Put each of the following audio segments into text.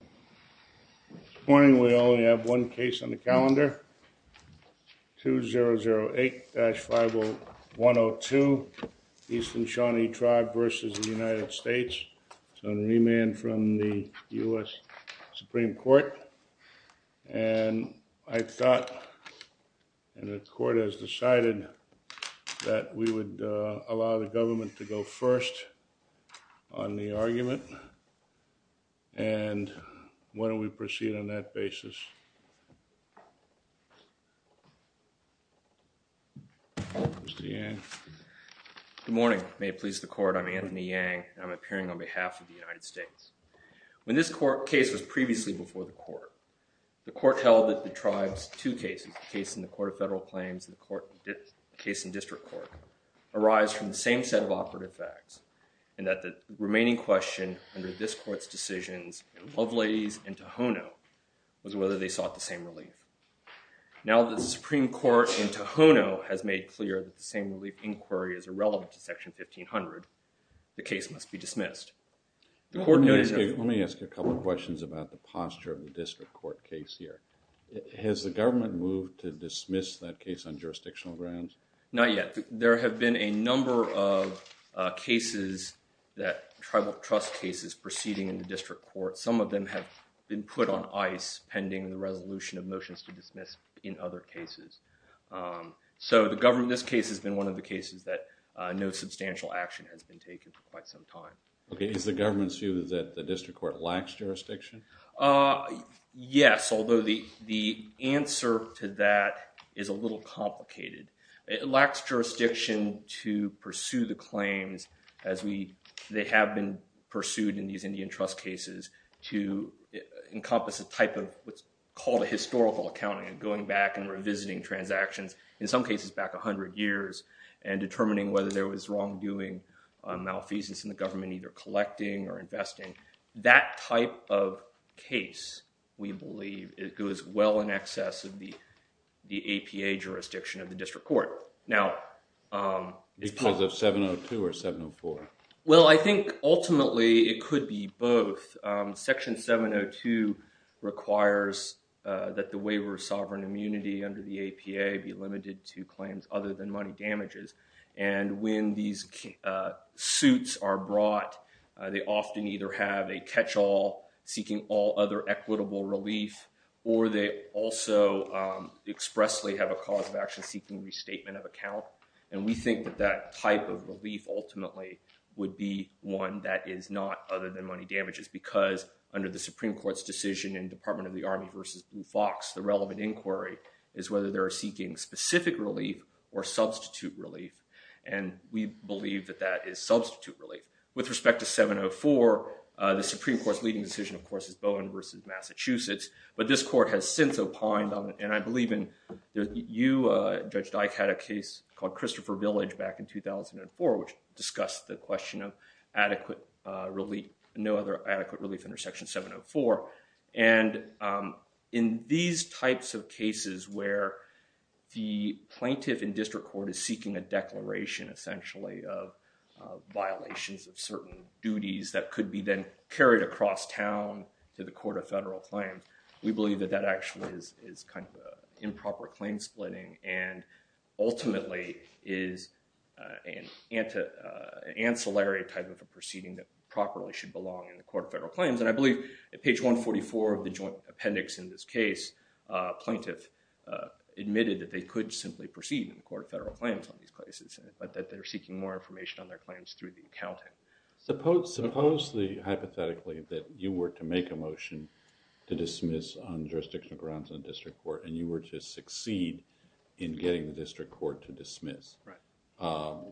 This morning we only have one case on the calendar. 2008-50102 EASTERN SHAWNEE TRIBE v. United States. It's on remand from the U.S. Supreme Court. And I thought, and the court has decided, that we would allow the government to go first on the argument. And why don't we proceed on that basis. Mr. Yang. Good morning. May it please the court, I'm Anthony Yang, and I'm appearing on behalf of the United States. When this case was previously before the court, the court held that the tribe's two cases, the case in the Court of Federal Claims and the case in District Court, arise from the same set of operative facts. And that the remaining question under this court's decisions in Lovelace and Tohono was whether they sought the same relief. Now that the Supreme Court in Tohono has made clear that the same relief inquiry is irrelevant to Section 1500, the case must be dismissed. Let me ask you a couple of questions about the posture of the District Court case here. Has the government moved to dismiss that case on jurisdictional grounds? Not yet. There have been a number of cases, tribal trust cases proceeding in the District Court. Some of them have been put on ice pending the resolution of motions to dismiss in other cases. So this case has been one of the cases that no substantial action has been taken for quite some time. Is the government's view that the District Court lacks jurisdiction? Yes, although the answer to that is a little complicated. It lacks jurisdiction to pursue the claims as they have been pursued in these Indian trust cases to encompass a type of what's called a historical accounting, going back and revisiting transactions, in some cases back a hundred years, and determining whether there was wrongdoing, malfeasance in the government, either collecting or investing. That type of case, we believe, it goes well in excess of the District Court. Because of 702 or 704? Well, I think ultimately it could be both. Section 702 requires that the waiver of sovereign immunity under the APA be limited to claims other than money damages. And when these suits are brought, they often either have a catch-all seeking all other equitable relief, or they also expressly have a cause of action seeking restatement of account. And we think that that type of relief ultimately would be one that is not other than money damages because under the Supreme Court's decision in Department of the Army v. Blue Fox, the relevant inquiry is whether they're seeking specific relief or substitute relief. And we believe that that is substitute relief. With respect to 704, the Supreme Court's leading decision, of course, is Bowen v. Massachusetts. But this court has since opined on it. And I believe you, Judge Dike, had a case called Christopher Village back in 2004, which discussed the question of no other adequate relief under Section 704. And in these types of cases where the plaintiff in District Court is seeking a declaration, essentially, of violations of certain duties that could be then carried across town to the Court of Federal Claims, we believe that that actually is kind of improper claim splitting and ultimately is an ancillary type of a proceeding that properly should belong in the Court of Federal Claims. And I believe at page 144 of the joint appendix in this case, a plaintiff admitted that they could simply proceed in the Court of Federal Claims on these cases, but that they're seeking more information on their claims through the accounting. Suppose, hypothetically, that you were to make a motion to dismiss on jurisdictional grounds in District Court and you were to succeed in getting the District Court to dismiss. Right.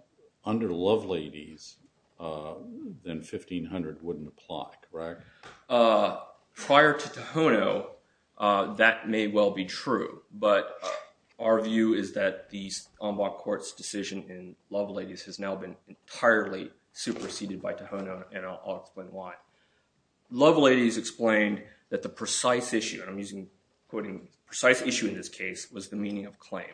Under Loveladies, then 1500 wouldn't apply, correct? Prior to Tohono, that may well be true. But our view is that the Ombud Court's decision in Loveladies has now been entirely superseded by Tohono, and I'll explain why. Loveladies explained that the precise issue, and I'm using, quoting, precise issue in this case was the meaning of claim.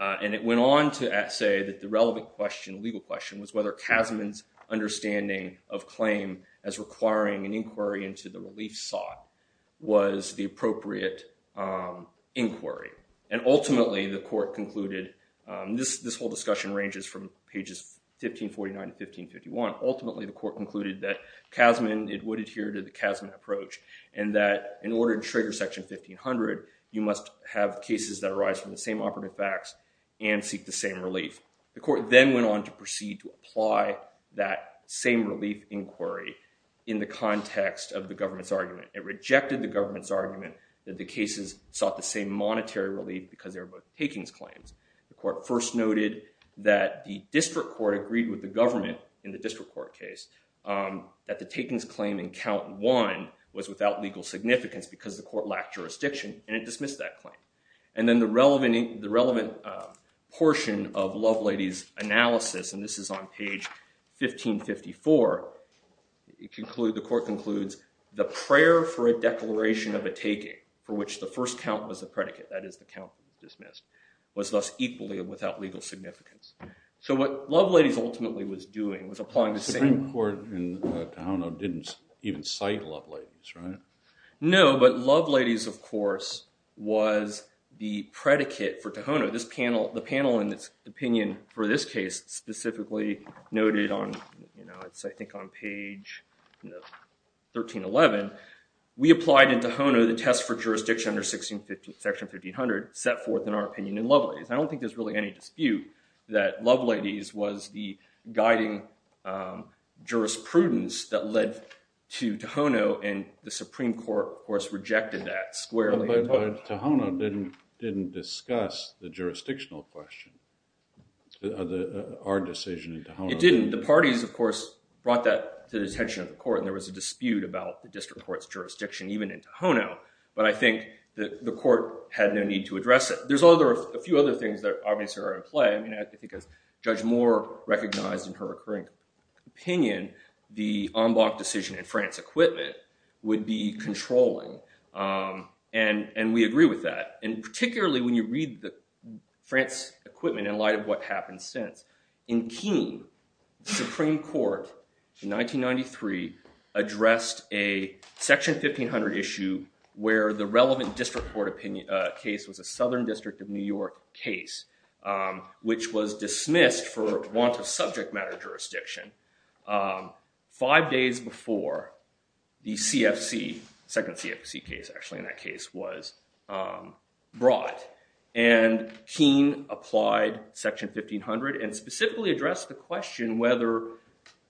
And it went on to say that the relevant question, legal question, was whether Kasman's understanding of claim as requiring an inquiry into the relief sought was the appropriate inquiry. And ultimately, the court concluded, this whole discussion ranges from pages 1549 to 1551, ultimately the court concluded that Kasman, it would adhere to the Kasman approach, and that in order to trigger Section 1500, you must have cases that arise from the same operative facts and seek the same relief. The court then went on to proceed to apply that same relief inquiry in the context of the government's argument. It rejected the government's argument that the cases sought the same monetary relief because they were both takings claims. The court first noted that the district court agreed with the government in the district court case that the takings claim in count one was without legal significance because the court lacked jurisdiction, and it dismissed that claim. And then the relevant portion of Loveladies' analysis, and this is on page 1554, the court concludes, the prayer for a declaration of a taking for which the first count was a predicate, that is the count dismissed, was thus equally without legal significance. So what Loveladies ultimately was doing was applying the same... The Supreme Court in Tohono didn't even cite Loveladies, right? No, but Loveladies, of course, was the predicate for Tohono. The panel in its opinion for this case specifically noted on, I think on page 1311, we applied in Tohono the test for jurisdiction under section 1500 set forth in our opinion in Loveladies. I don't think there's really any dispute that Loveladies was the guiding jurisprudence that led to Tohono, and the Supreme Court, of course, rejected that squarely. But Tohono didn't discuss the jurisdictional question, our decision in Tohono. It didn't. The parties, of course, brought that to the attention of the court, and there was a dispute about the district court's jurisdiction even in Tohono, but I think the court had no need to address it. There's a few other things that obviously are in play. I mean, I think as Judge Moore recognized in her occurring opinion, the en banc decision in France Equipment would be controlling, and we agree with that, and particularly when you read the France Equipment in light of what happened since. In Keene, the Supreme Court in 1993 addressed a section 1500 issue where the relevant district court opinion case was a Southern District of New York case, which was dismissed for want of subject matter jurisdiction five days before the CFC, second CFC case actually in that case, was brought. And Keene applied section 1500 and specifically addressed the question whether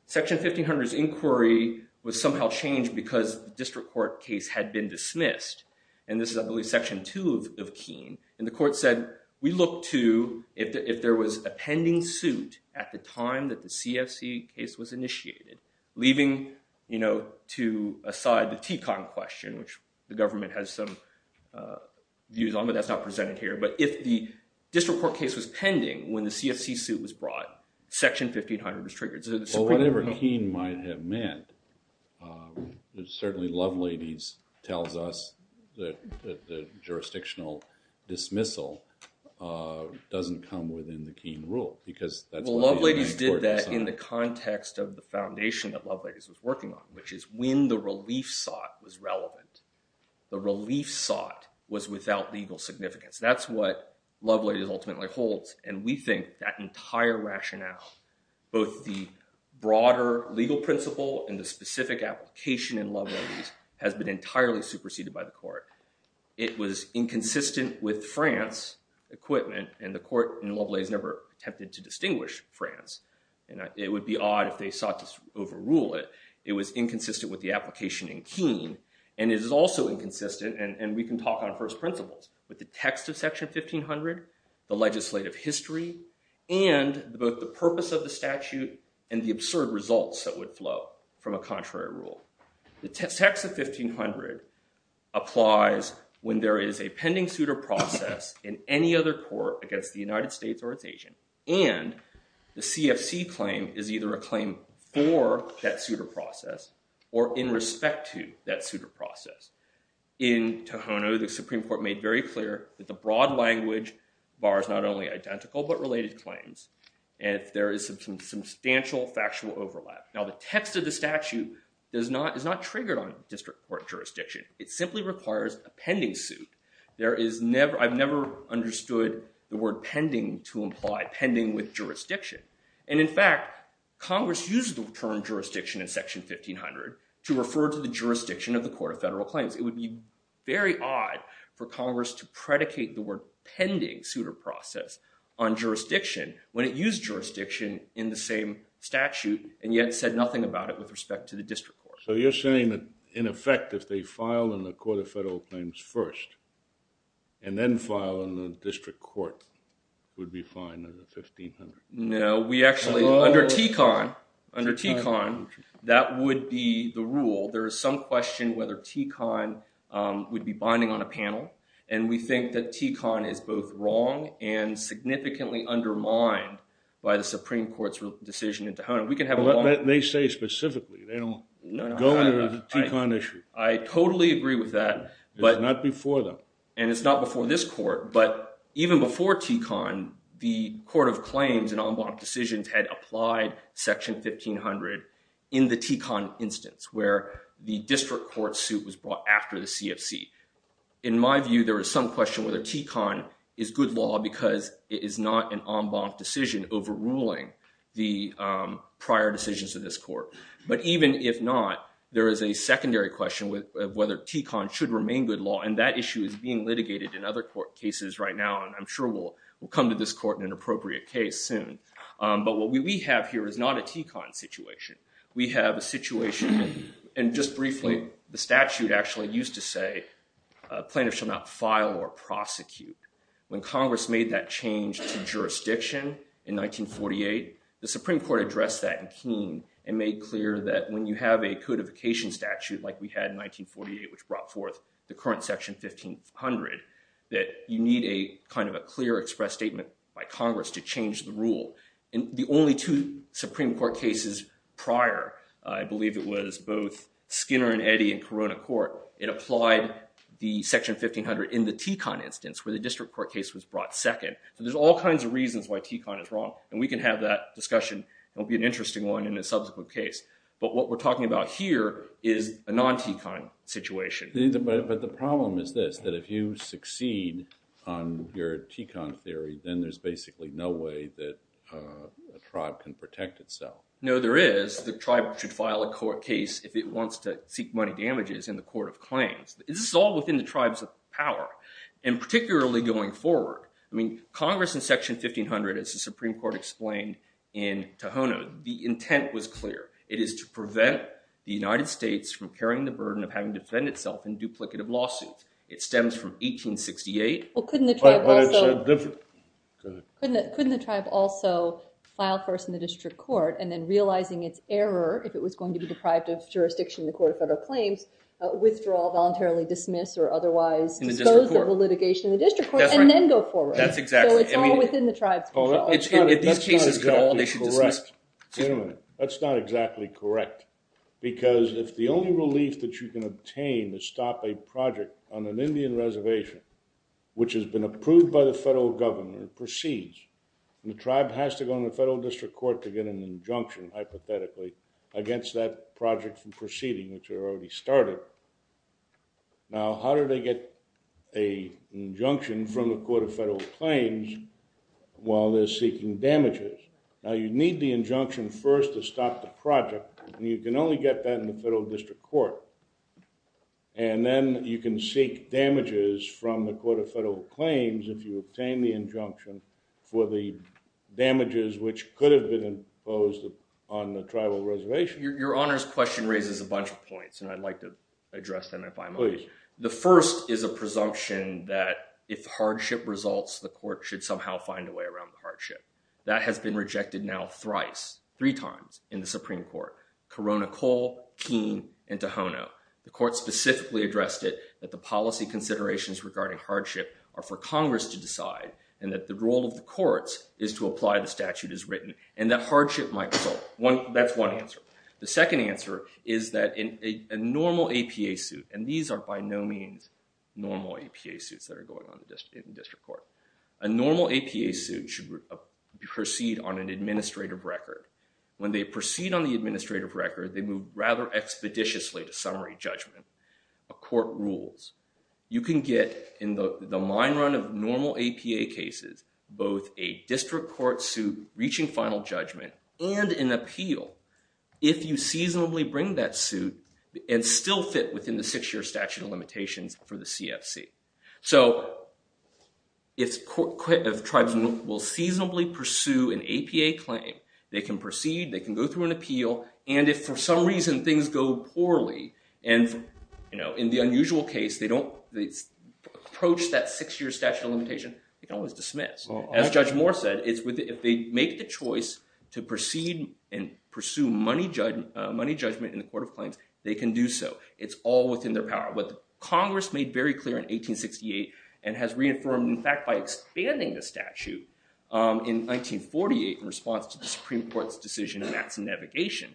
section 1500's inquiry was somehow changed because the district court case had been dismissed. And this is, I believe, section two of Keene. And the court said, we look to if there was a pending suit at the time that the CFC case was initiated, leaving aside the TECON question, which the government has some views on, but that's not presented here, but if the district court case was pending when the CFC suit was brought, section 1500 was triggered. Whatever Keene might have meant, certainly Loveladies tells us that the jurisdictional dismissal doesn't come within the Keene rule. Loveladies did that in the context of the foundation that Loveladies was working on, which is when the relief sought was relevant. The relief sought was without legal significance. That's what Loveladies ultimately holds, and we think that entire rationale, both the broader legal principle and the specific application in Loveladies, has been entirely superseded by the court. It was inconsistent with France equipment, and the court in Loveladies never attempted to distinguish France. It would be odd if they sought to overrule it. It was inconsistent with the application in Keene, and it is also inconsistent, and we can talk on first principles, with the text of section 1500, the legislative history, and both the purpose of the statute and the absurd results that would flow from a contrary rule. The text of 1500 applies when there is a pending suitor process in any other court against the United States or its agent, and the CFC claim is either a claim for that suitor process or in respect to that suitor process. In Tohono, the Supreme Court made very clear that the broad language bars not only identical but related claims, and there is some substantial factual overlap. Now, the text of the statute is not triggered on district court jurisdiction. It simply requires a pending suit. I've never understood the word pending to imply pending with jurisdiction, and in fact, Congress used the term jurisdiction in section 1500 to refer to the jurisdiction of the Court of Federal Claims. It would be very odd for Congress to predicate the word pending suitor process on jurisdiction when it used jurisdiction in the same statute and yet said nothing about it with respect to the district court. So you're saying that, in effect, if they file in the Court of Federal Claims first and then file in the district court, it would be fine in the 1500? No, we actually, under TECON, under TECON, that would be the rule. There is some question whether TECON would be binding on a panel, and we think that TECON is both wrong and significantly undermined by the Supreme Court's decision in Tohono. They say specifically. They don't go under the TECON issue. I totally agree with that. It's not before them. And it's not before this court. But even before TECON, the Court of Claims and en banc decisions had applied section 1500 in the TECON instance, where the district court suit was brought after the CFC. In my view, there is some question whether TECON is good law because it is not an en banc decision overruling the prior decisions of this court. But even if not, there is a secondary question of whether TECON should remain good law, and that issue is being litigated in other court cases right now. And I'm sure we'll come to this court in an appropriate case soon. But what we have here is not a TECON situation. We have a situation, and just briefly, the statute actually used to say plaintiffs shall not file or prosecute. When Congress made that change to jurisdiction in 1948, the Supreme Court addressed that in Keene and made clear that when you have a codification statute like we had in 1948, which brought forth the current section 1500, that you need a kind of a clear express statement by Congress to change the rule. And the only two Supreme Court cases prior, I believe it was both Skinner and Eddy in Corona Court, it applied the section 1500 in the TECON instance, where the district court case was brought second. So there's all kinds of reasons why TECON is wrong, and we can have that discussion. It'll be an interesting one in a subsequent case. But what we're talking about here is a non-TECON situation. But the problem is this, that if you succeed on your TECON theory, then there's basically no way that a tribe can protect itself. No, there is. The tribe should file a court case if it wants to seek money damages in the court of claims. This is all within the tribe's power, and particularly going forward. I mean, Congress in section 1500, as the Supreme Court explained in Tohono, the intent was clear. It is to prevent the United States from carrying the burden of having to defend itself in duplicative lawsuits. It stems from 1868. Couldn't the tribe also file first in the district court, and then realizing its error, if it was going to be deprived of jurisdiction in the court of federal claims, withdraw, voluntarily dismiss, or otherwise dispose of the litigation in the district court, and then go forward? That's exactly it. So it's all within the tribe's control. That's not exactly correct. That's not exactly correct, because if the only relief that you can obtain to stop a project on an Indian reservation, which has been approved by the federal governor, proceeds, and the tribe has to go in the federal district court to get an injunction, hypothetically, against that project from proceeding, which it already started. Now, how do they get an injunction from the court of federal claims while they're seeking damages? Now, you need the injunction first to stop the project, and you can only get that in the federal district court. And then you can seek damages from the court of federal claims if you obtain the injunction for the damages, which could have been imposed on the tribal reservation. Your Honor's question raises a bunch of points, and I'd like to address them if I may. Please. The first is a presumption that if hardship results, the court should somehow find a way around the hardship. That has been rejected now thrice, three times, in the Supreme Court. Corona Cole, Keene, and Tohono. The court specifically addressed it, that the policy considerations regarding hardship are for Congress to decide, and that the role of the courts is to apply the statute as written, and that hardship might result. That's one answer. The second answer is that a normal APA suit, and these are by no means normal APA suits that are going on in the district court. A normal APA suit should proceed on an administrative record. When they proceed on the administrative record, they move rather expeditiously to summary judgment. A court rules. You can get, in the mine run of normal APA cases, both a district court suit reaching final judgment and an appeal, if you seasonably bring that suit and still fit within the six-year statute of limitations for the CFC. So if tribes will seasonably pursue an APA claim, they can proceed, they can go through an appeal, and if for some reason things go poorly, and in the unusual case, they don't approach that six-year statute of limitation, they can always dismiss. As Judge Moore said, if they make the choice to proceed and pursue money judgment in the court of claims, they can do so. It's all within their power. What Congress made very clear in 1868, and has reaffirmed, in fact, by expanding the statute, in 1948, in response to the Supreme Court's decision on acts of navigation,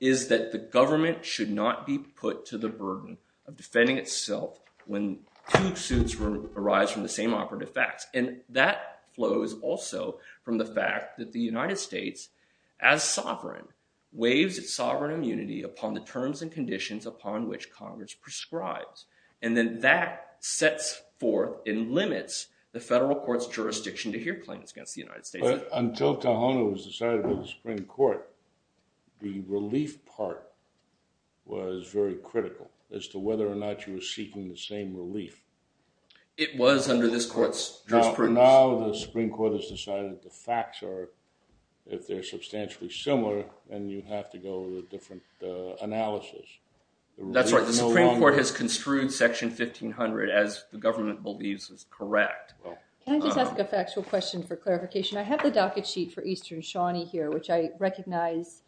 is that the government should not be put to the burden of defending itself when two suits arise from the same operative facts. And that flows also from the fact that the United States, as sovereign, waives its sovereign immunity upon the terms and conditions upon which Congress prescribes. And then that sets forth and limits the federal court's jurisdiction to hear claims against the United States. But until Tohono was decided by the Supreme Court, the relief part was very critical as to whether or not you were seeking the same relief. It was under this court's jurisprudence. Now the Supreme Court has decided the facts are, if they're substantially similar, then you have to go with a different analysis. That's right. The Supreme Court has construed Section 1500 as the government believes is correct. Can I just ask a factual question for clarification? I have the docket sheet for Eastern Shawnee here, which I recognize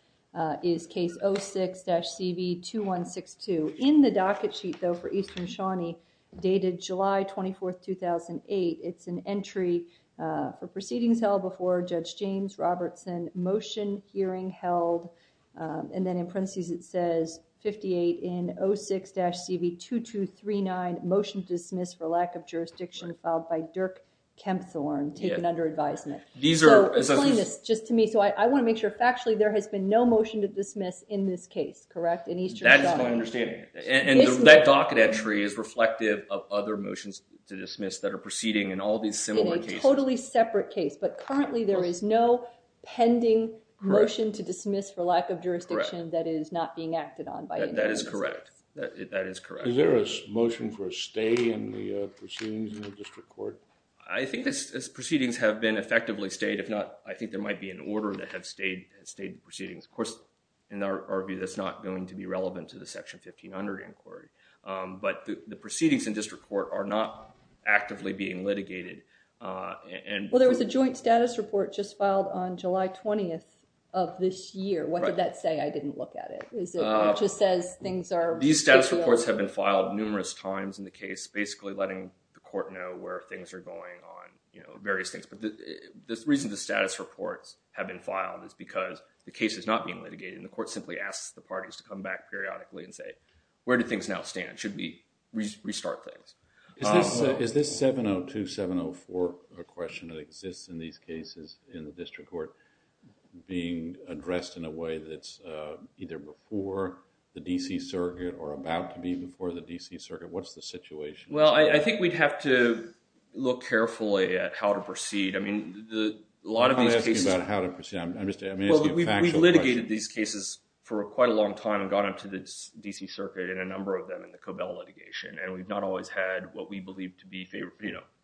is case 06-CV2162. In the docket sheet, though, for Eastern Shawnee, dated July 24, 2008, it's an entry for proceedings held before Judge James Robertson, motion hearing held, and then in parentheses it says 58 in 06-CV2239, motion to dismiss for lack of jurisdiction filed by Dirk Kempthorne, taken under advisement. So explain this just to me. So I want to make sure factually there has been no motion to dismiss in this case, correct, in Eastern Shawnee? That is my understanding. And that docket entry is reflective of other motions to dismiss that are proceeding in all these similar cases. It's a totally separate case, but currently there is no pending motion to dismiss for lack of jurisdiction that is not being acted on. That is correct. That is correct. Is there a motion for a stay in the proceedings in the district court? I think the proceedings have been effectively stayed. If not, I think there might be an order to have stayed proceedings. Of course, in our view, that's not going to be relevant to the Section 1500 inquiry. But the proceedings in district court are not actively being litigated. Well, there was a joint status report just filed on July 20th of this year. What did that say? I didn't look at it. It just says things are— These status reports have been filed numerous times in the case, basically letting the court know where things are going on, various things. But the reason the status reports have been filed is because the case is not being litigated, and the court simply asks the parties to come back periodically and say, where do things now stand? Should we restart things? Is this 702, 704 question that exists in these cases in the district court being addressed in a way that's either before the D.C. Circuit or about to be before the D.C. Circuit? What's the situation? Well, I think we'd have to look carefully at how to proceed. I mean, a lot of these cases— I'm asking a factual question. Well, we've litigated these cases for quite a long time and gone up to the D.C. Circuit and a number of them in the Cobell litigation, and we've not always had what we believe to be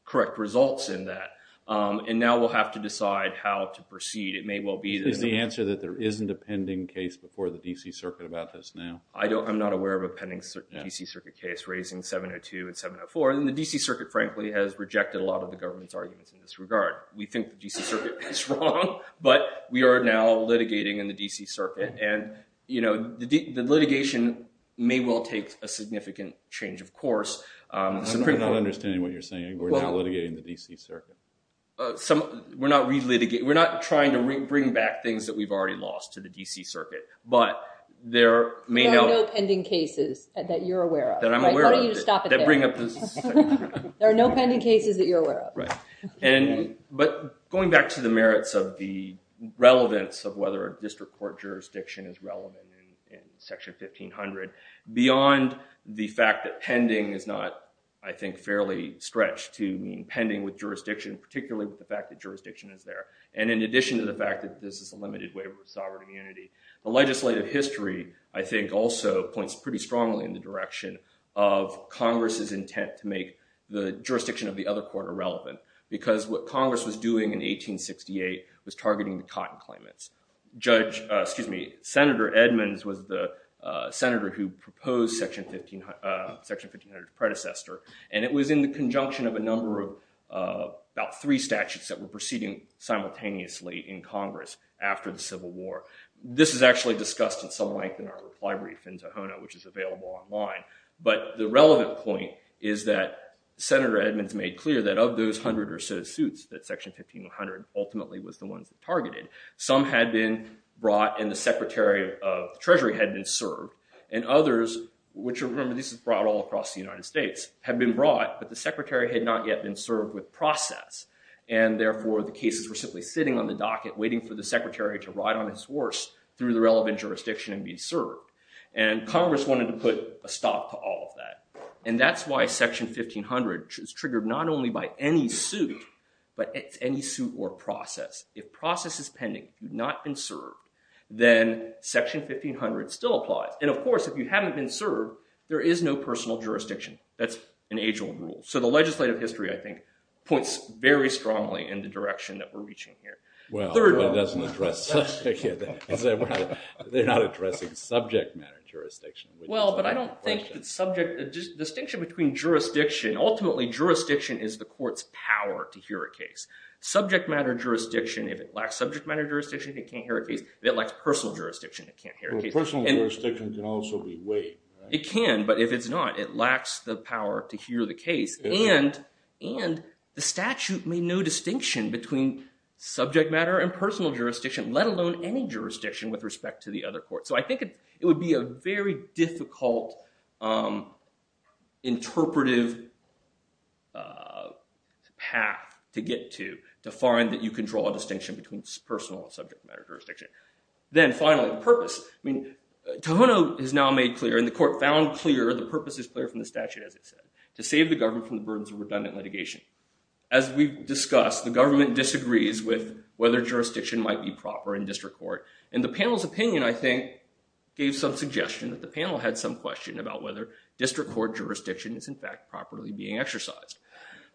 correct results in that. And now we'll have to decide how to proceed. It may well be that— Is the answer that there isn't a pending case before the D.C. Circuit about this now? I'm not aware of a pending D.C. Circuit case raising 702 and 704. And the D.C. Circuit, frankly, has rejected a lot of the government's arguments in this regard. We think the D.C. Circuit is wrong, but we are now litigating in the D.C. Circuit. And, you know, the litigation may well take a significant change, of course. I'm not understanding what you're saying. We're now litigating in the D.C. Circuit. We're not trying to bring back things that we've already lost to the D.C. Circuit, but there may now— There are no pending cases that you're aware of. That I'm aware of. How do you stop it there? There are no pending cases that you're aware of. Right. But going back to the merits of the relevance of whether a district court jurisdiction is relevant in Section 1500, beyond the fact that pending is not, I think, fairly stretched to mean pending with jurisdiction, particularly with the fact that jurisdiction is there, and in addition to the fact that this is a limited waiver of sovereign immunity, the legislative history, I think, also points pretty strongly in the direction of Congress's intent to make the jurisdiction of the other court irrelevant, because what Congress was doing in 1868 was targeting the Cotton claimants. Judge—excuse me, Senator Edmonds was the senator who proposed Section 1500's predecessor, and it was in the conjunction of a number of—about three statutes that were proceeding simultaneously in Congress after the Civil War. This is actually discussed at some length in our reply brief in Tohono, which is available online, but the relevant point is that Senator Edmonds made clear that of those hundred or so suits that Section 1500 ultimately was the ones that targeted, some had been brought and the Secretary of the Treasury had been served, and others—which, remember, this is brought all across the United States— had been brought, but the Secretary had not yet been served with process, and therefore the cases were simply sitting on the docket waiting for the Secretary to ride on his horse through the relevant jurisdiction and be served. And Congress wanted to put a stop to all of that. And that's why Section 1500 is triggered not only by any suit, but any suit or process. If process is pending, if you've not been served, then Section 1500 still applies. And, of course, if you haven't been served, there is no personal jurisdiction. That's an age-old rule. So the legislative history, I think, points very strongly in the direction that we're reaching here. Well, but it doesn't address subject—they're not addressing subject matter jurisdiction. Well, but I don't think that subject—the distinction between jurisdiction—ultimately, jurisdiction is the court's power to hear a case. Subject matter jurisdiction, if it lacks subject matter jurisdiction, it can't hear a case. If it lacks personal jurisdiction, it can't hear a case. Well, personal jurisdiction can also be weight, right? It can, but if it's not, it lacks the power to hear the case. And the statute made no distinction between subject matter and personal jurisdiction, let alone any jurisdiction with respect to the other court. So I think it would be a very difficult interpretive path to get to, to find that you can draw a distinction between personal and subject matter jurisdiction. Then, finally, purpose. I mean, Tohono has now made clear, and the court found clear, the purpose is clear from the statute, as it said, to save the government from the burdens of redundant litigation. As we've discussed, the government disagrees with whether jurisdiction might be proper in district court. And the panel's opinion, I think, gave some suggestion that the panel had some question about whether district court jurisdiction is, in fact, properly being exercised.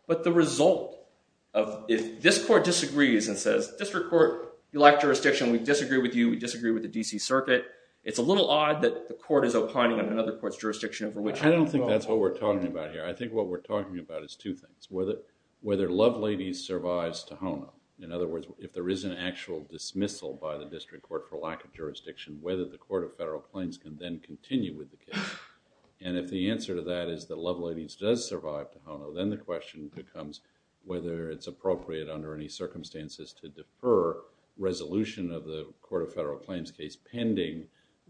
But the result of, if this court disagrees and says, district court, you lack jurisdiction, we disagree with you, we disagree with the D.C. Circuit, it's a little odd that the court is opining on another court's jurisdiction over which— I don't think that's what we're talking about here. I think what we're talking about is two things. Whether Love Ladies survives Tohono. In other words, if there is an actual dismissal by the district court for lack of jurisdiction, whether the court of federal claims can then continue with the case. And if the answer to that is that Love Ladies does survive Tohono, then the question becomes whether it's appropriate under any circumstances to defer resolution of the court of federal claims case pending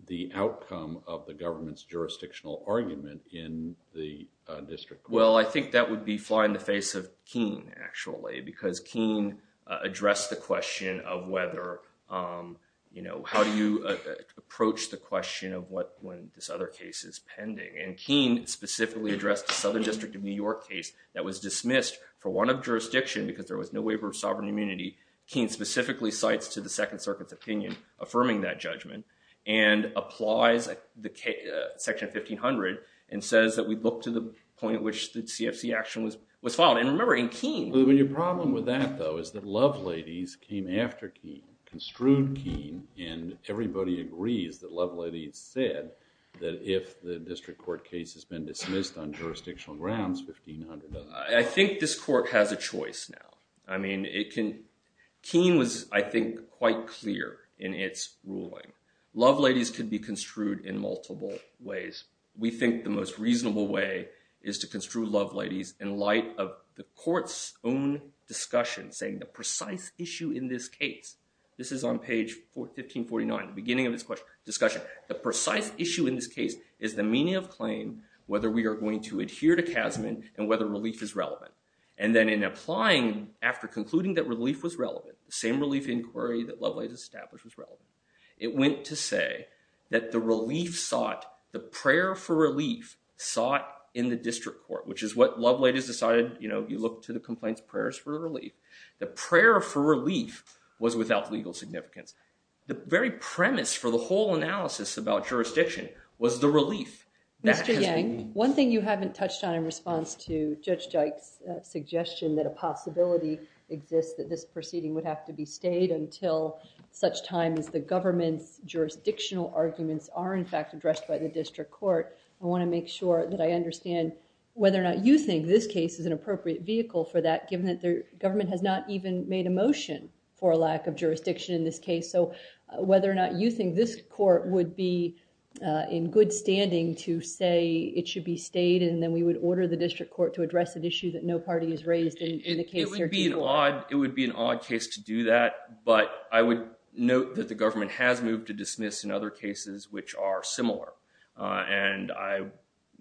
the outcome of the government's jurisdictional argument in the district court. Well, I think that would be fly in the face of Keene, actually. Because Keene addressed the question of whether, you know, how do you approach the question of when this other case is pending. And Keene specifically addressed the Southern District of New York case that was dismissed for want of jurisdiction because there was no waiver of sovereign immunity. Keene specifically cites to the Second Circuit's opinion affirming that judgment. And applies Section 1500 and says that we look to the point at which the CFC action was filed. And remember, in Keene. Your problem with that, though, is that Love Ladies came after Keene, construed Keene, and everybody agrees that Love Ladies said that if the district court case has been dismissed on jurisdictional grounds, 1500 doesn't apply. I think this court has a choice now. I mean, Keene was, I think, quite clear in its ruling. Love Ladies could be construed in multiple ways. We think the most reasonable way is to construe Love Ladies in light of the court's own discussion saying the precise issue in this case. This is on page 1549, the beginning of this discussion. The precise issue in this case is the meaning of claim, whether we are going to adhere to CASMIN, and whether relief is relevant. And then in applying, after concluding that relief was relevant, the same relief inquiry that Love Ladies established was relevant. It went to say that the relief sought, the prayer for relief sought in the district court, which is what Love Ladies decided, you know, you look to the complaints prayers for relief. The prayer for relief was without legal significance. The very premise for the whole analysis about jurisdiction was the relief. Mr. Yang, one thing you haven't touched on in response to Judge Jike's suggestion that a possibility exists that this proceeding would have to be stayed until such time as the government's jurisdictional arguments are in fact addressed by the district court. I want to make sure that I understand whether or not you think this case is an appropriate vehicle for that, given that the government has not even made a motion for a lack of jurisdiction in this case. So whether or not you think this court would be in good standing to say it should be stayed, and then we would order the district court to address an issue that no party has raised in the case. It would be an odd case to do that, but I would note that the government has moved to dismiss in other cases which are similar. And I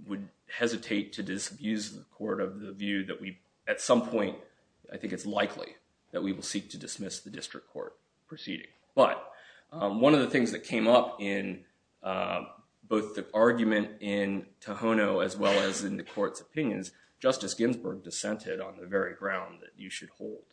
would hesitate to disabuse the court of the view that we, at some point, I think it's likely that we will seek to dismiss the district court proceeding. But one of the things that came up in both the argument in Tohono as well as in the court's opinions, Justice Ginsburg dissented on the very ground that you should hold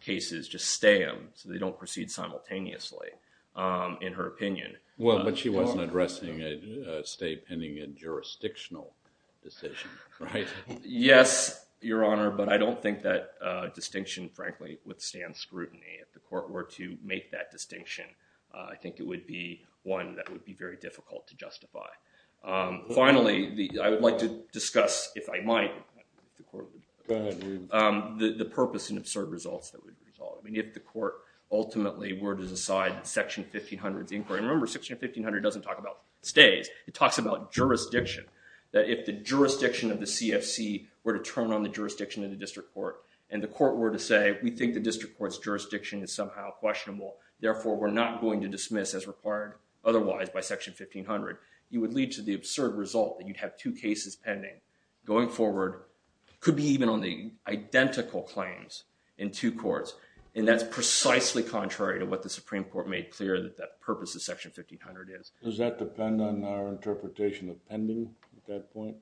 cases, just stay them so they don't proceed simultaneously, in her opinion. Well, but she wasn't addressing a stay pending a jurisdictional decision, right? Yes, Your Honor, but I don't think that distinction, frankly, withstands scrutiny. If the court were to make that distinction, I think it would be one that would be very difficult to justify. Finally, I would like to discuss, if I might, the purpose and absurd results that would result. I mean, if the court ultimately were to decide Section 1500's inquiry. Remember, Section 1500 doesn't talk about stays. It talks about jurisdiction, that if the jurisdiction of the CFC were to turn on the jurisdiction of the district court and the court were to say, we think the district court's jurisdiction is somehow questionable, therefore we're not going to dismiss as required otherwise by Section 1500, you would lead to the absurd result that you'd have two cases pending going forward, could be even on the identical claims in two courts. And that's precisely contrary to what the Supreme Court made clear that that purpose of Section 1500 is. Does that depend on our interpretation of pending at that point?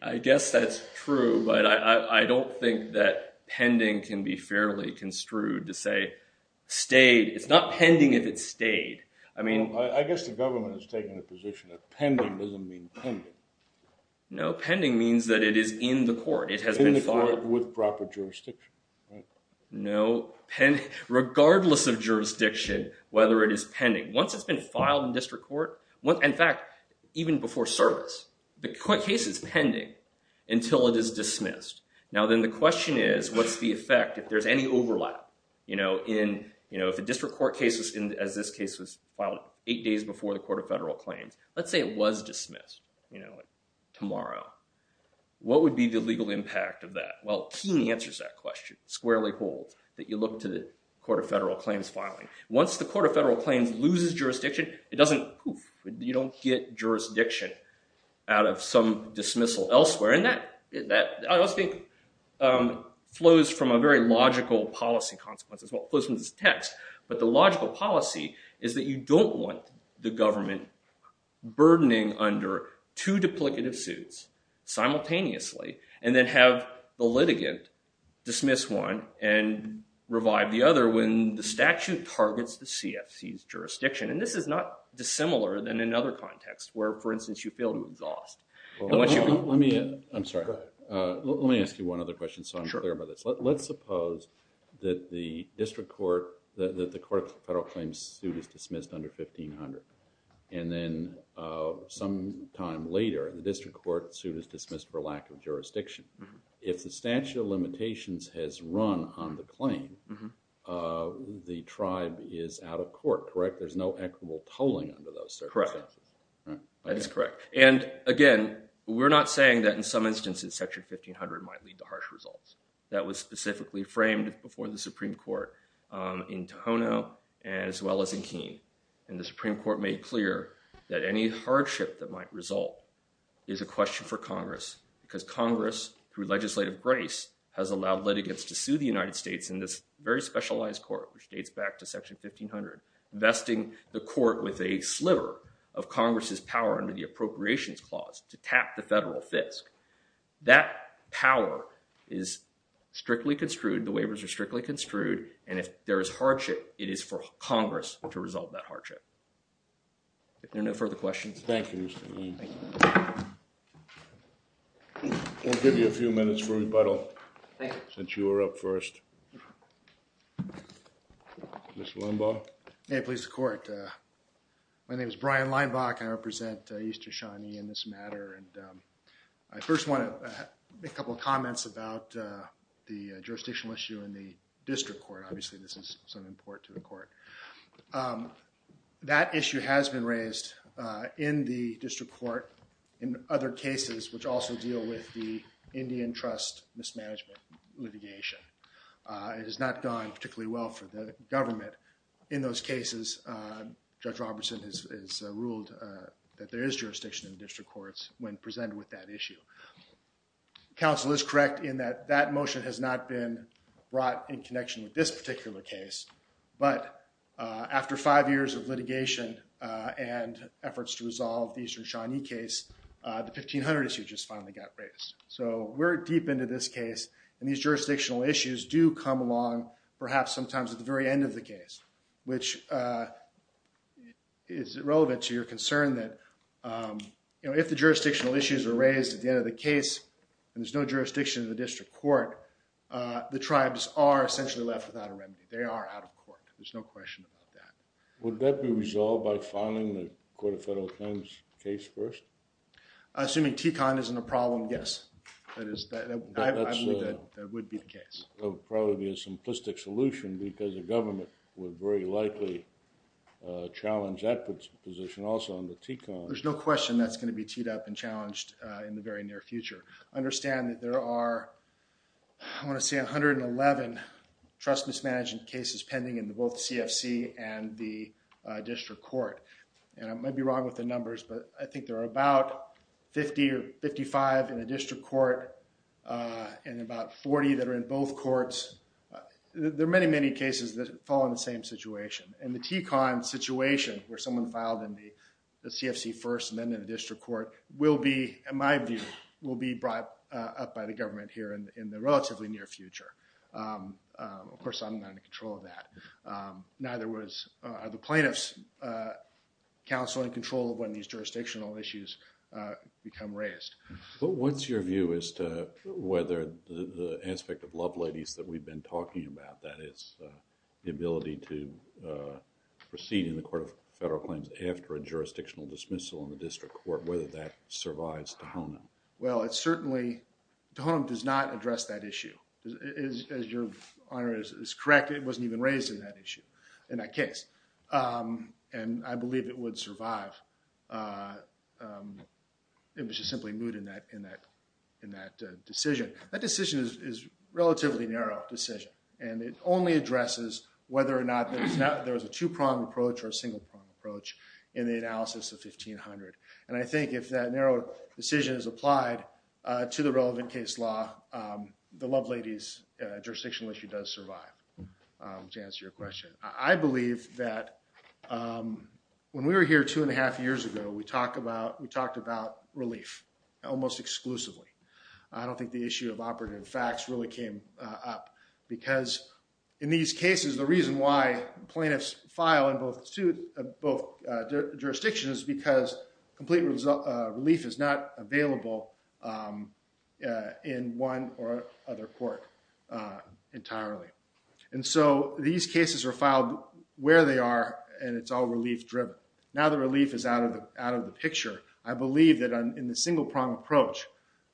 I guess that's true, but I don't think that pending can be fairly construed to say stayed. It's not pending if it's stayed. I guess the government has taken a position that pending doesn't mean pending. No, pending means that it is in the court. It has been filed. In the court with proper jurisdiction. No, regardless of jurisdiction, whether it is pending. Once it's been filed in district court, in fact, even before service, the case is pending until it is dismissed. Now, then the question is, what's the effect if there's any overlap? If the district court case, as this case was filed eight days before the Court of Federal Claims, let's say it was dismissed tomorrow. What would be the legal impact of that? Well, Keene answers that question, squarely holds, that you look to the Court of Federal Claims filing. Once the Court of Federal Claims loses jurisdiction, you don't get jurisdiction out of some dismissal elsewhere. And that, I also think, flows from a very logical policy consequence as well, flows from this text. But the logical policy is that you don't want the government burdening under two duplicative suits simultaneously, and then have the litigant dismiss one and revive the other when the statute targets the CFC's jurisdiction. And this is not dissimilar than another context where, for instance, you fail to exhaust. Let me, I'm sorry, let me ask you one other question so I'm clear about this. Let's suppose that the district court, that the Court of Federal Claims suit is dismissed under 1500. And then sometime later, the district court suit is dismissed for lack of jurisdiction. If the statute of limitations has run on the claim, the tribe is out of court, correct? There's no equitable tolling under those circumstances. Correct. That is correct. And again, we're not saying that in some instances Section 1500 might lead to harsh results. That was specifically framed before the Supreme Court in Tohono as well as in Keene. And the Supreme Court made clear that any hardship that might result is a question for Congress, because Congress, through legislative grace, has allowed litigants to sue the United States in this very specialized court, which dates back to Section 1500, vesting the court with a sliver of Congress's power under the appropriations clause to tap the federal fisc. That power is strictly construed, the waivers are strictly construed, and if there is hardship, it is for Congress to resolve that hardship. If there are no further questions. Thank you, Mr. Lane. Thank you. We'll give you a few minutes for rebuttal. Thank you. Since you were up first. Mr. Leinbach. May it please the Court. My name is Brian Leinbach, and I represent East Shoshone in this matter. And I first want to make a couple of comments about the jurisdictional issue in the district court. Obviously, this is of some import to the court. That issue has been raised in the district court in other cases, which also deal with the Indian Trust mismanagement litigation. It has not gone particularly well for the government in those cases. Judge Robertson has ruled that there is jurisdiction in the district courts when presented with that issue. Counsel is correct in that that motion has not been brought in connection with this particular case. But after five years of litigation and efforts to resolve the Eastern Shawnee case, the 1500 issue just finally got raised. So we're deep into this case. And these jurisdictional issues do come along, perhaps sometimes at the very end of the case, which is relevant to your concern that if the jurisdictional issues are raised at the end of the case, and there's no jurisdiction in the district court, the tribes are essentially left without a remedy. They are out of court. There's no question about that. Would that be resolved by filing the Court of Federal Claims case first? Assuming TCON isn't a problem, yes. That would be the case. That would probably be a simplistic solution because the government would very likely challenge that position also on the TCON. There's no question that's going to be teed up and challenged in the very near future. I understand that there are, I want to say, 111 trust mismanagement cases pending in both the CFC and the district court. And I might be wrong with the numbers, but I think there are about 50 or 55 in the district court and about 40 that are in both courts. There are many, many cases that fall in the same situation. And the TCON situation where someone filed in the CFC first and then in the district court will be, in my view, will be brought up by the government here in the relatively near future. Of course, I'm not in control of that. Neither are the plaintiffs' counsel and control of when these jurisdictional issues become raised. But what's your view as to whether the aspect of love ladies that we've been talking about, that is the ability to proceed in the court of federal claims after a jurisdictional dismissal in the district court, whether that survives Tejonem? Well, it certainly, Tejonem does not address that issue. As your Honor is correct, it wasn't even raised in that issue, in that case. And I believe it would survive. It was just simply moot in that decision. That decision is a relatively narrow decision, and it only addresses whether or not there is a two-pronged approach or a single-pronged approach in the analysis of 1500. And I think if that narrow decision is applied to the relevant case law, the love ladies jurisdictional issue does survive, to answer your question. I believe that when we were here two and a half years ago, we talked about relief almost exclusively. I don't think the issue of operative facts really came up because in these cases, the reason why plaintiffs file in both jurisdictions is because complete relief is not available in one or other court entirely. And so these cases are filed where they are, and it's all relief-driven. Now that relief is out of the picture, I believe that in the single-pronged approach,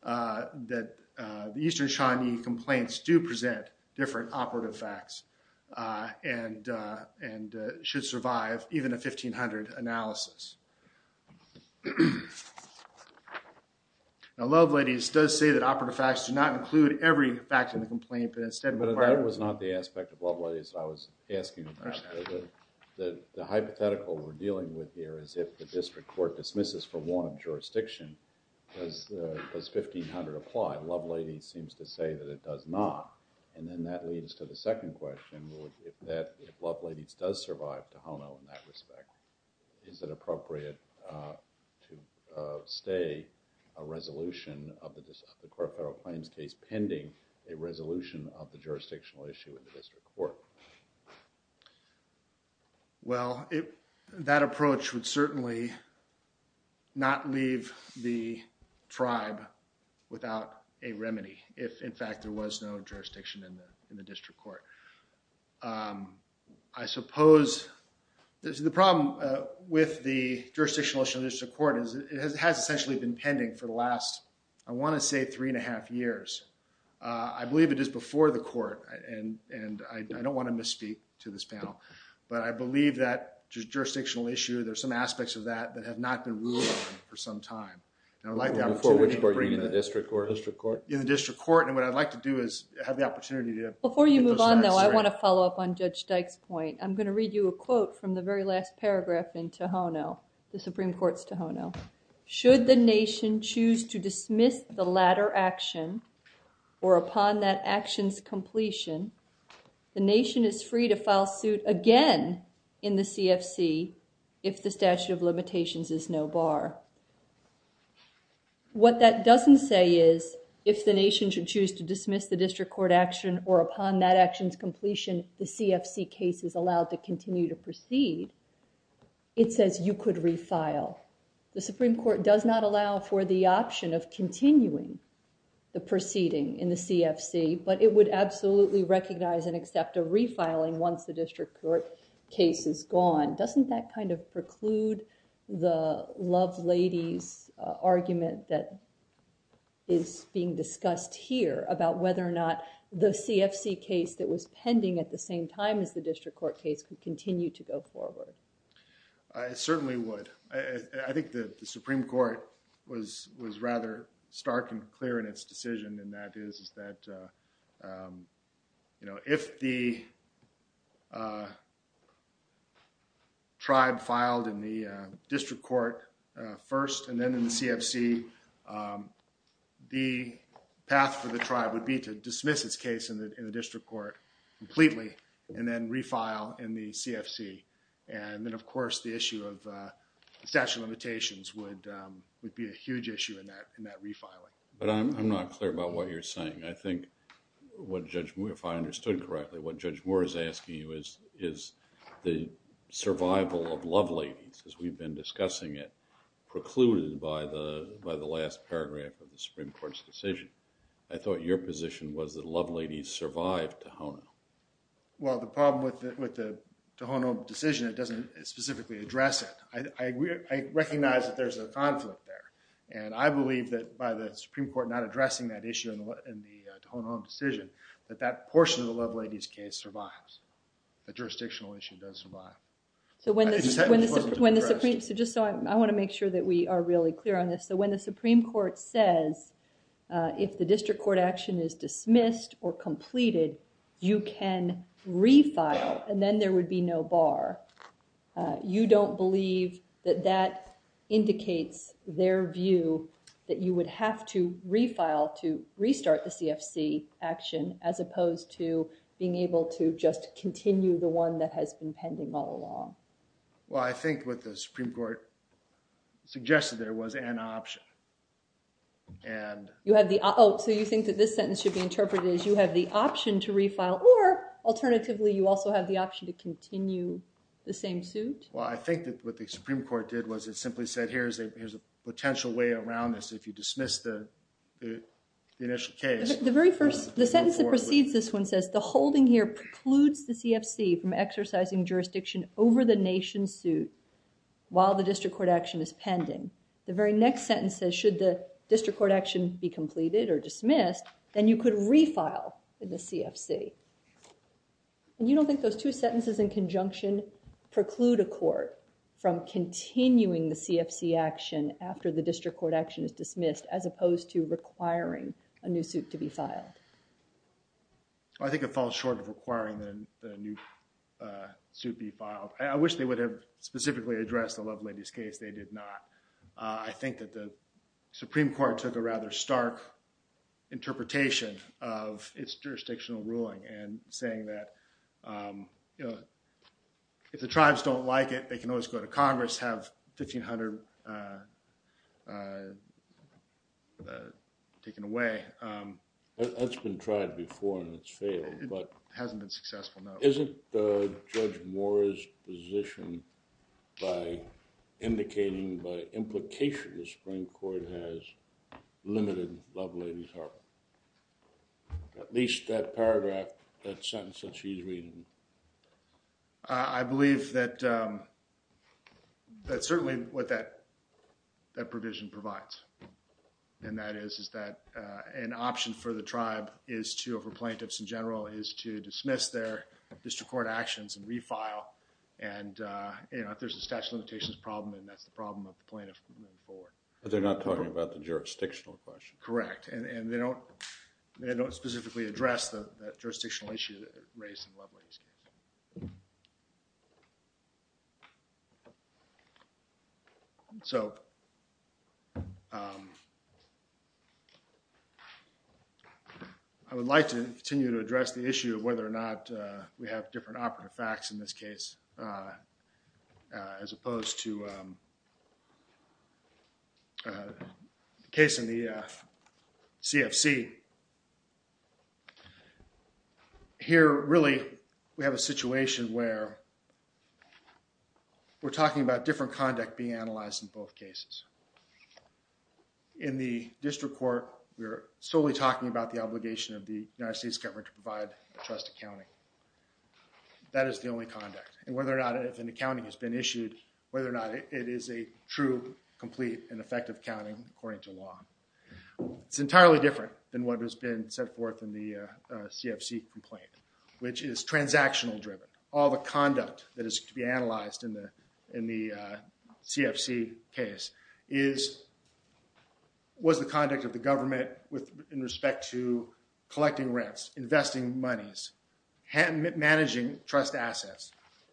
that the Eastern Shawnee complaints do present different operative facts and should survive even a 1500 analysis. Now, love ladies does say that operative facts do not include every fact in the complaint, but instead require that the plaintiffs do not include every fact in the complaint. So that's not the aspect of love ladies that I was asking. The hypothetical we're dealing with here is if the district court dismisses for one jurisdiction, does 1500 apply? Love ladies seems to say that it does not. And then that leads to the second question, that if love ladies does survive to HONO in that respect, is it appropriate to stay a resolution of the court of federal claims case pending a resolution of the jurisdictional issue in the district court? Well, that approach would certainly not leave the tribe without a remedy if, in fact, there was no jurisdiction in the district court. I suppose the problem with the jurisdictional issue in the district court is it has essentially been pending for the last, I want to say, three and a half years. I believe it is before the court, and I don't want to misspeak to this panel, but I believe that jurisdictional issue, there's some aspects of that that have not been ruled for some time. Before which court, in the district court? In the district court, and what I'd like to do is have the opportunity to... Before you move on, though, I want to follow up on Judge Dykes' point. I'm going to read you a quote from the very last paragraph in TOHONO, the Supreme Court's TOHONO. Should the nation choose to dismiss the latter action or upon that action's completion, the nation is free to file suit again in the CFC if the statute of limitations is no bar. What that doesn't say is if the nation should choose to dismiss the district court action or upon that action's completion, the CFC case is allowed to continue to proceed. It says you could refile. The Supreme Court does not allow for the option of continuing the proceeding in the CFC, but it would absolutely recognize and accept a refiling once the district court case is gone. Doesn't that preclude the love lady's argument that is being discussed here about whether or not the CFC case that was pending at the same time as the district court case could continue to go forward? It certainly would. I think the Supreme Court was rather stark and clear in its decision, and that is that if the tribe filed in the district court first and then in the CFC, um, the path for the tribe would be to dismiss its case in the, in the district court completely and then refile in the CFC. And then of course, the issue of, uh, statute of limitations would, um, would be a huge issue in that, in that refiling. But I'm, I'm not clear about what you're saying. I think what Judge Moore, if I understood correctly, what Judge Moore is asking you is, is the survival of love ladies as we've been discussing it precluded by the, by the last paragraph of the Supreme Court's decision. I thought your position was that love ladies survived Tohono. Well, the problem with, with the Tohono decision, it doesn't specifically address it. I recognize that there's a conflict there, and I believe that by the Supreme Court not addressing that issue in the Tohono decision, that that portion of the love ladies case survives. The jurisdictional issue does survive. So when the, when the Supreme, so just so I, I want to make sure that we are really clear on this. So when the Supreme Court says, uh, if the district court action is dismissed or completed, you can refile and then there would be no bar. Uh, you don't believe that that indicates their view that you would have to refile to restart the CFC action as opposed to being able to just continue the one that has been pending all along. Well, I think what the Supreme Court suggested there was an option. And you have the, oh, so you think that this sentence should be interpreted as you have the option to refile or alternatively, you also have the option to continue the same suit. Well, I think that what the Supreme Court did was it simply said, here's a, here's a potential way around this. If you dismiss the initial case. The very first, the sentence that precedes this one says the holding here precludes the CFC from exercising jurisdiction over the nation suit while the district court action is pending. The very next sentence says, should the district court action be completed or dismissed, then you could refile in the CFC. And you don't think those two sentences in conjunction preclude a court from continuing the CFC action after the district court action is dismissed as opposed to requiring a new suit to be filed. I think it falls short of requiring the new suit be filed. I wish they would have specifically addressed the Lovelady's case. They did not. I think that the Supreme Court took a rather stark interpretation of its jurisdictional ruling and saying that, you know, if the tribes don't like it, they can always go to Congress have 1500 taken away. That's been tried before and it's failed, but hasn't been successful. No, isn't the judge Morris position. By indicating by implication, the Supreme Court has limited lovely. At least that paragraph that sentence that she's reading. I believe that. That's certainly what that that provision provides. And that is, is that an option for the tribe is to over plaintiffs in general is to dismiss their district court actions and refile. And, uh, you know, if there's a statute of limitations problem, and that's the problem of the plaintiff moving forward, but they're not talking about the jurisdictional question. Correct. And they don't. They don't specifically address the jurisdictional issue race and lovely. So. I would like to continue to address the issue of whether or not we have different operative facts in this case. As opposed to. Case in the CFC. Here, really, we have a situation where. We're talking about different conduct being analyzed in both cases. In the district court, we're solely talking about the obligation of the United States government to provide trust accounting. That is the only conduct and whether or not if an accounting has been issued, whether or not it is a true, complete and effective counting according to law. It's entirely different than what has been set forth in the CFC complaint, which is transactional driven. All the conduct that is to be analyzed in the in the CFC case is. Was the conduct of the government with in respect to collecting rents, investing monies, managing trust assets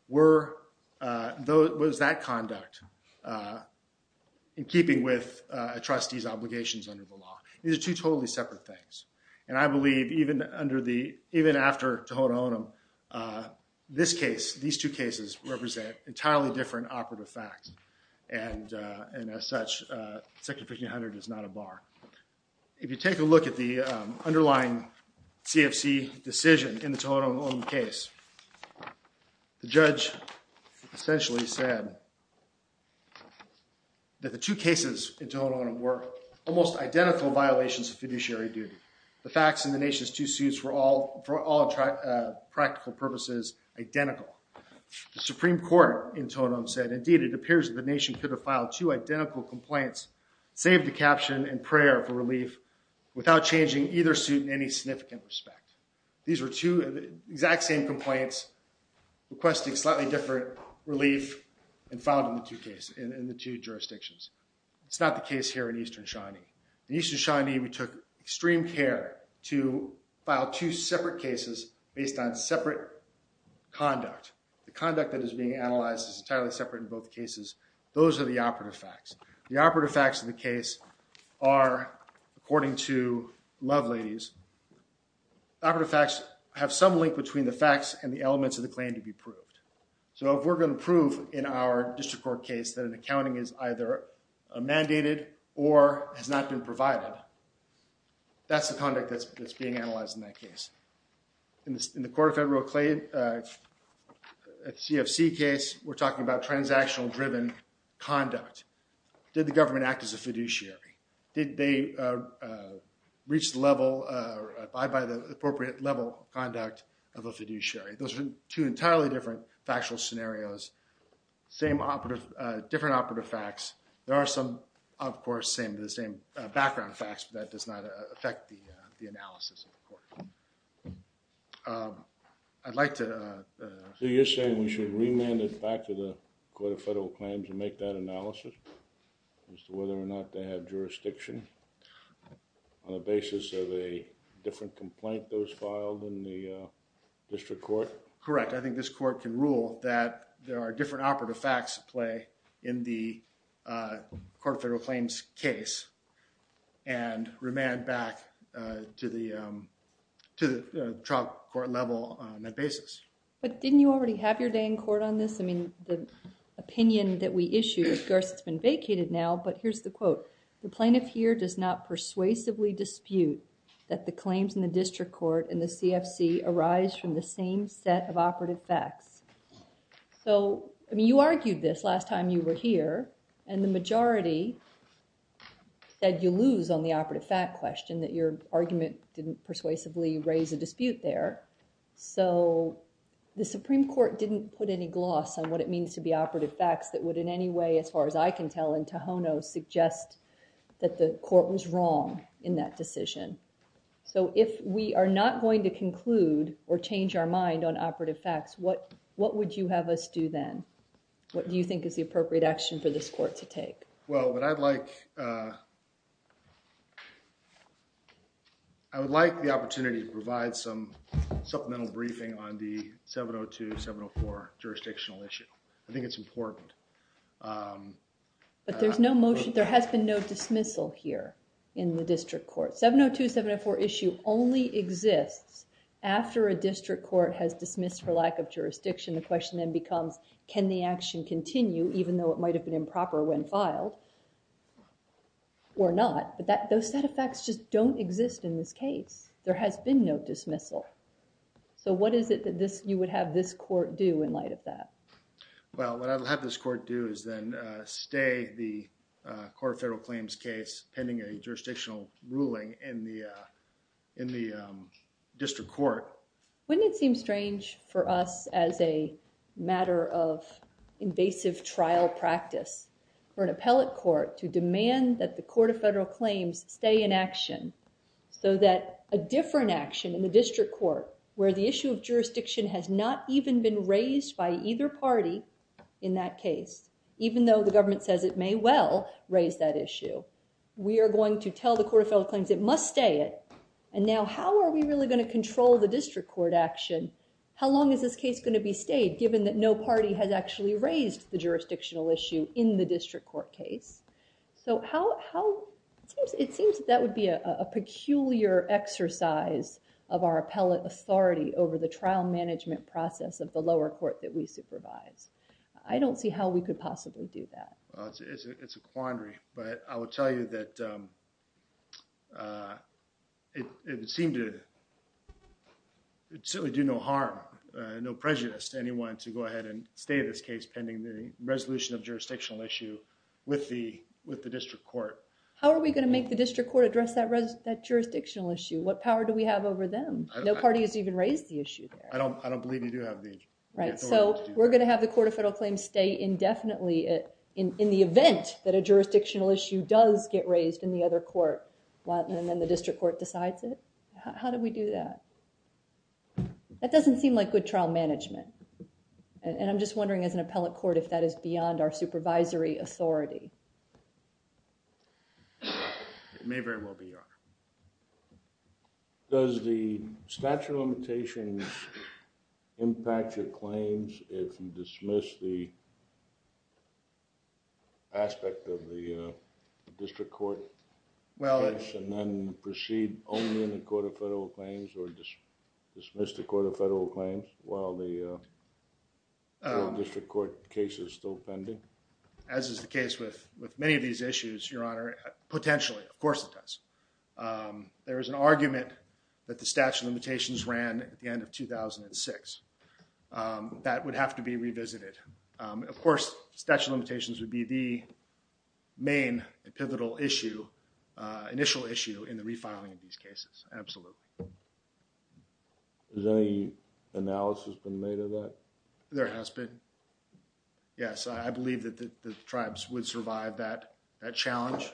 were those that conduct. In keeping with a trustee's obligations under the law, these are two totally separate things, and I believe even under the even after. This case, these two cases represent entirely different operative facts. And and as such is not a bar. If you take a look at the underlying CFC decision in the case. The judge essentially said. That the two cases in total were almost identical violations of fiduciary duty. The facts in the nation's two suits were all for all practical purposes. Identical. The Supreme Court in total said, indeed, it appears that the nation could have filed two identical complaints. Save the caption and prayer for relief without changing either suit in any significant respect. These were two exact same complaints. Requesting slightly different relief and found in the two case in the two jurisdictions. It's not the case here in Eastern shiny. The Eastern shiny we took extreme care to file two separate cases based on separate. Conduct the conduct that is being analyzed is entirely separate in both cases. Those are the operative facts. The operative facts in the case are according to love ladies. Operative facts have some link between the facts and the elements of the claim to be proved. So if we're going to prove in our district court case that an accounting is either mandated or has not been provided. That's the conduct that's being analyzed in that case. In the quarter federal claim. At CFC case, we're talking about transactional driven conduct. Did the government act as a fiduciary? Did they reach level by by the appropriate level conduct of a fiduciary? Those are two entirely different factual scenarios. Same operative, different operative facts. There are some, of course, same the same background facts that does not affect the analysis of the court. I'd like to say you're saying we should remand it back to the court of federal claims and make that analysis. Whether or not they have jurisdiction on the basis of a different complaint. Those filed in the district court. Correct. I think this court can rule that there are different operative facts play in the court federal claims case and remand back to the to the trial court level on that basis. But didn't you already have your day in court on this? I mean, the opinion that we issue, of course, it's been vacated now, but here's the quote. The plaintiff here does not persuasively dispute that the claims in the district court and the CFC arise from the same set of operative facts. So, I mean, you argued this last time you were here and the majority said you lose on the operative fact question that your argument didn't persuasively raise a dispute there. So, the Supreme Court didn't put any gloss on what it means to be operative facts that would in any way as far as I can tell in Tohono suggest that the court was wrong in that decision. So, if we are not going to conclude or change our mind on operative facts, what what would you have us do then? What do you think is the appropriate action for this court to take? Well, what I'd like, uh, I would like the opportunity to provide some supplemental briefing on the 702-704 jurisdictional issue. I think it's important. But there's no motion, there has been no dismissal here in the district court. So, 702-704 issue only exists after a district court has dismissed for lack of jurisdiction. The question then becomes, can the action continue even though it might have been improper when filed or not? But that those set of facts just don't exist in this case. There has been no dismissal. So, what is it that this you would have this court do in light of that? Well, what I would have this court do is then stay the court of federal claims case pending a jurisdictional ruling in the district court. Wouldn't it seem strange for us as a matter of invasive trial practice for an appellate court to demand that the court of federal claims stay in action? So that a different action in the district court where the issue of jurisdiction has not even been raised by either party in that case, even though the government says it may well raise that issue, we are going to tell the court of federal claims it must stay it. And now, how are we really going to control the district court action? How long is this case going to be stayed given that no party has actually raised the jurisdictional issue in the district court case? So, it seems that would be a peculiar exercise of our appellate authority over the trial management process of the lower court that we supervise. I don't see how we could possibly do that. It's a quandary, but I would tell you that it seemed to do no harm, no prejudice to anyone to go ahead and stay this case pending the resolution of jurisdictional issue with the district court. How are we going to make the district court address that jurisdictional issue? What power do we have over them? No party has even raised the issue there. I don't believe you do have the authority to do that. So, we're going to have the court of federal claims stay indefinitely in the event that a jurisdictional issue does get raised in the other court, and then the district court decides it? How do we do that? That doesn't seem like good trial management. And I'm just wondering as an appellate court if that is beyond our supervisory authority. It may very well be, Your Honor. Does the statute of limitations impact your claims if you dismiss the aspect of the district court case and then proceed only in the court of federal claims or dismiss the court of federal claims while the district court case is still pending? As is the case with many of these issues, Your Honor, potentially, of course it does. There is an argument that the statute of limitations ran at the end of 2006. That would have to be revisited. Of course, statute of limitations would be the main pivotal issue, initial issue in the refiling of these cases, absolutely. Has any analysis been made of that? There has been. Yes, I believe that the tribes would survive that challenge,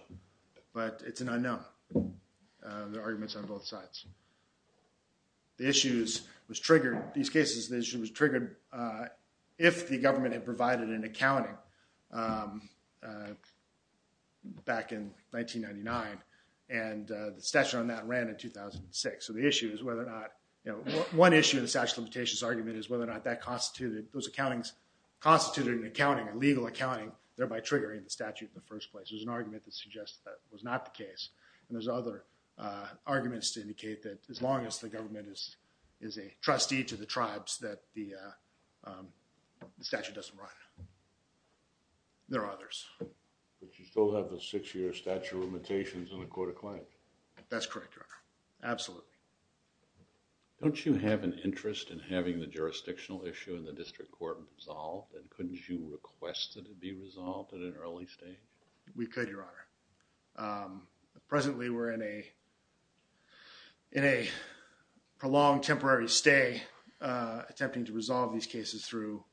but it's an unknown. There are arguments on both sides. The issue was triggered, these cases, the issue was triggered if the government had provided an accounting back in 1999, and the statute on that ran in 2006. So the issue is whether or not, you know, one issue in the statute of limitations argument is whether or not that constituted, those accountings constituted an accounting, a legal accounting, thereby triggering the statute in the first place. There's an argument that suggests that was not the case. And there's other arguments to indicate that as long as the government is a trustee to the tribes that the statute doesn't run. There are others. But you still have the six-year statute of limitations in the court of claims. That's correct, Your Honor. Absolutely. Don't you have an interest in having the jurisdictional issue in the district court resolved? And couldn't you request that it be resolved at an early stage? We could, Your Honor. Presently, we're in a, in a prolonged temporary stay, attempting to resolve these cases through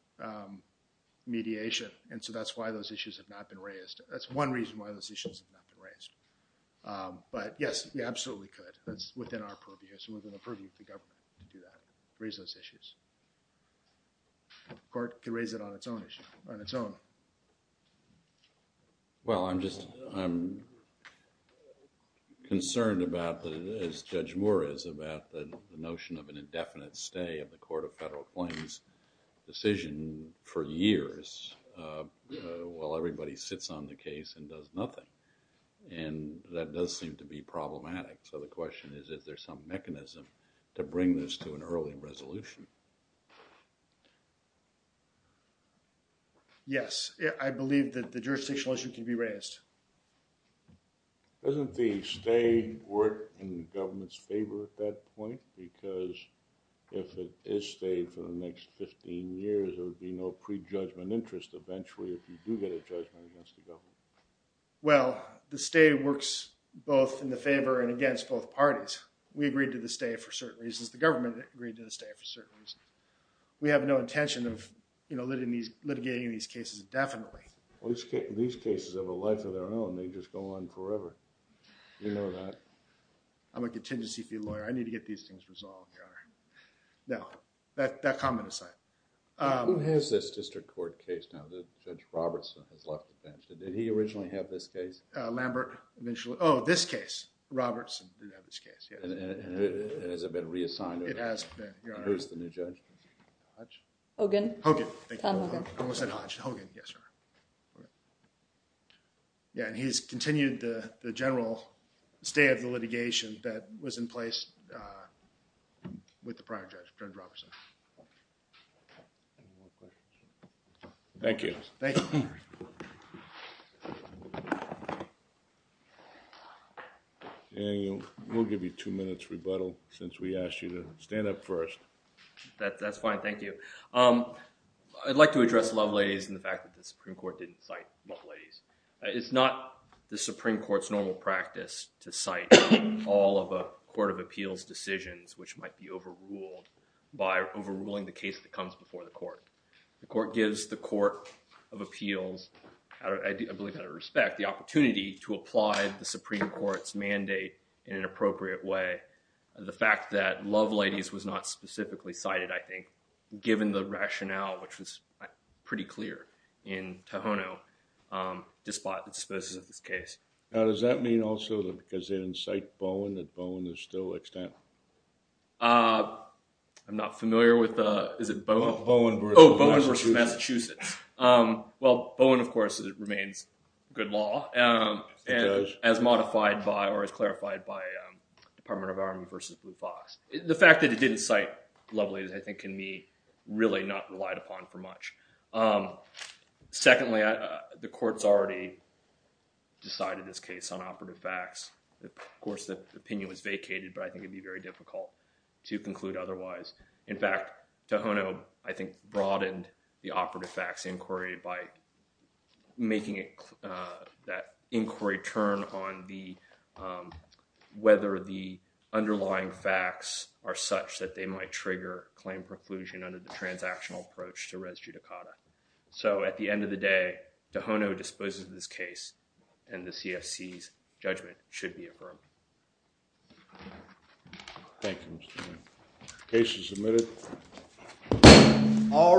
mediation. And so that's why those issues have not been raised. That's one reason why those issues have not been raised. But, yes, we absolutely could. That's within our purview, so within the purview of the government to do that, raise those issues. The court can raise it on its own issue, on its own. Well, I'm just, I'm concerned about the, as Judge Moore is, about the notion of an indefinite stay of the court of federal claims decision for years while everybody sits on the case and does nothing. And that does seem to be problematic. So the question is, is there some mechanism to bring this to an early resolution? Yes, I believe that the jurisdictional issue can be raised. Doesn't the stay work in the government's favor at that point? Because if it is stayed for the next 15 years, there would be no prejudgment interest eventually if you do get a judgment against the government. Well, the stay works both in the favor and against both parties. We agreed to the stay for certain reasons. The government agreed to the stay for certain reasons. We have no intention of, you know, litigating these cases indefinitely. These cases have a life of their own. They just go on forever. You know that. I'm a contingency fee lawyer. I need to get these things resolved, Your Honor. Now, that comment aside. Who has this district court case now that Judge Robertson has left the bench? Did he originally have this case? Lambert. Oh, this case. Robertson did have this case, yes. And has it been reassigned? It has been, Your Honor. Who's the new judge? Hodge? Hogan. Hogan. Thank you. I almost said Hodge. Hogan, yes, Your Honor. Yeah, and he's continued the general stay of the litigation that was in place with the prior judge, Judge Robertson. Thank you. Thank you. Daniel, we'll give you two minutes rebuttal since we asked you to stand up first. That's fine. Thank you. I'd like to address Loveladies and the fact that the Supreme Court didn't cite Loveladies. It's not the Supreme Court's normal practice to cite all of a court of appeals decisions which might be overruled by overruling the case that comes before the court. The court gives the court of appeals, I believe out of respect, the opportunity to apply the Supreme Court's mandate in an appropriate way. The fact that Loveladies was not specifically cited, I think, given the rationale, which was pretty clear in Tohono, despite the disposals of this case. Now, does that mean also that because they didn't cite Bowen, that Bowen is still extant? I'm not familiar with the, is it Bowen? Bowen versus Massachusetts. Oh, Bowen versus Massachusetts. Well, Bowen, of course, remains good law. It does. As modified by or as clarified by Department of Army versus Blue Fox. The fact that it didn't cite Loveladies, I think, can be really not relied upon for much. Secondly, the court's already decided this case on operative facts. Of course, the opinion was vacated, but I think it'd be very difficult to conclude otherwise. In fact, Tohono, I think, broadened the operative facts inquiry by making it, that inquiry turn on the, whether the underlying facts are such that they might trigger claim preclusion under the transactional approach to res judicata. So, at the end of the day, Tohono disposes of this case, and the CFC's judgment should be affirmed. Thank you, Mr. Chairman. Case is submitted. All rise.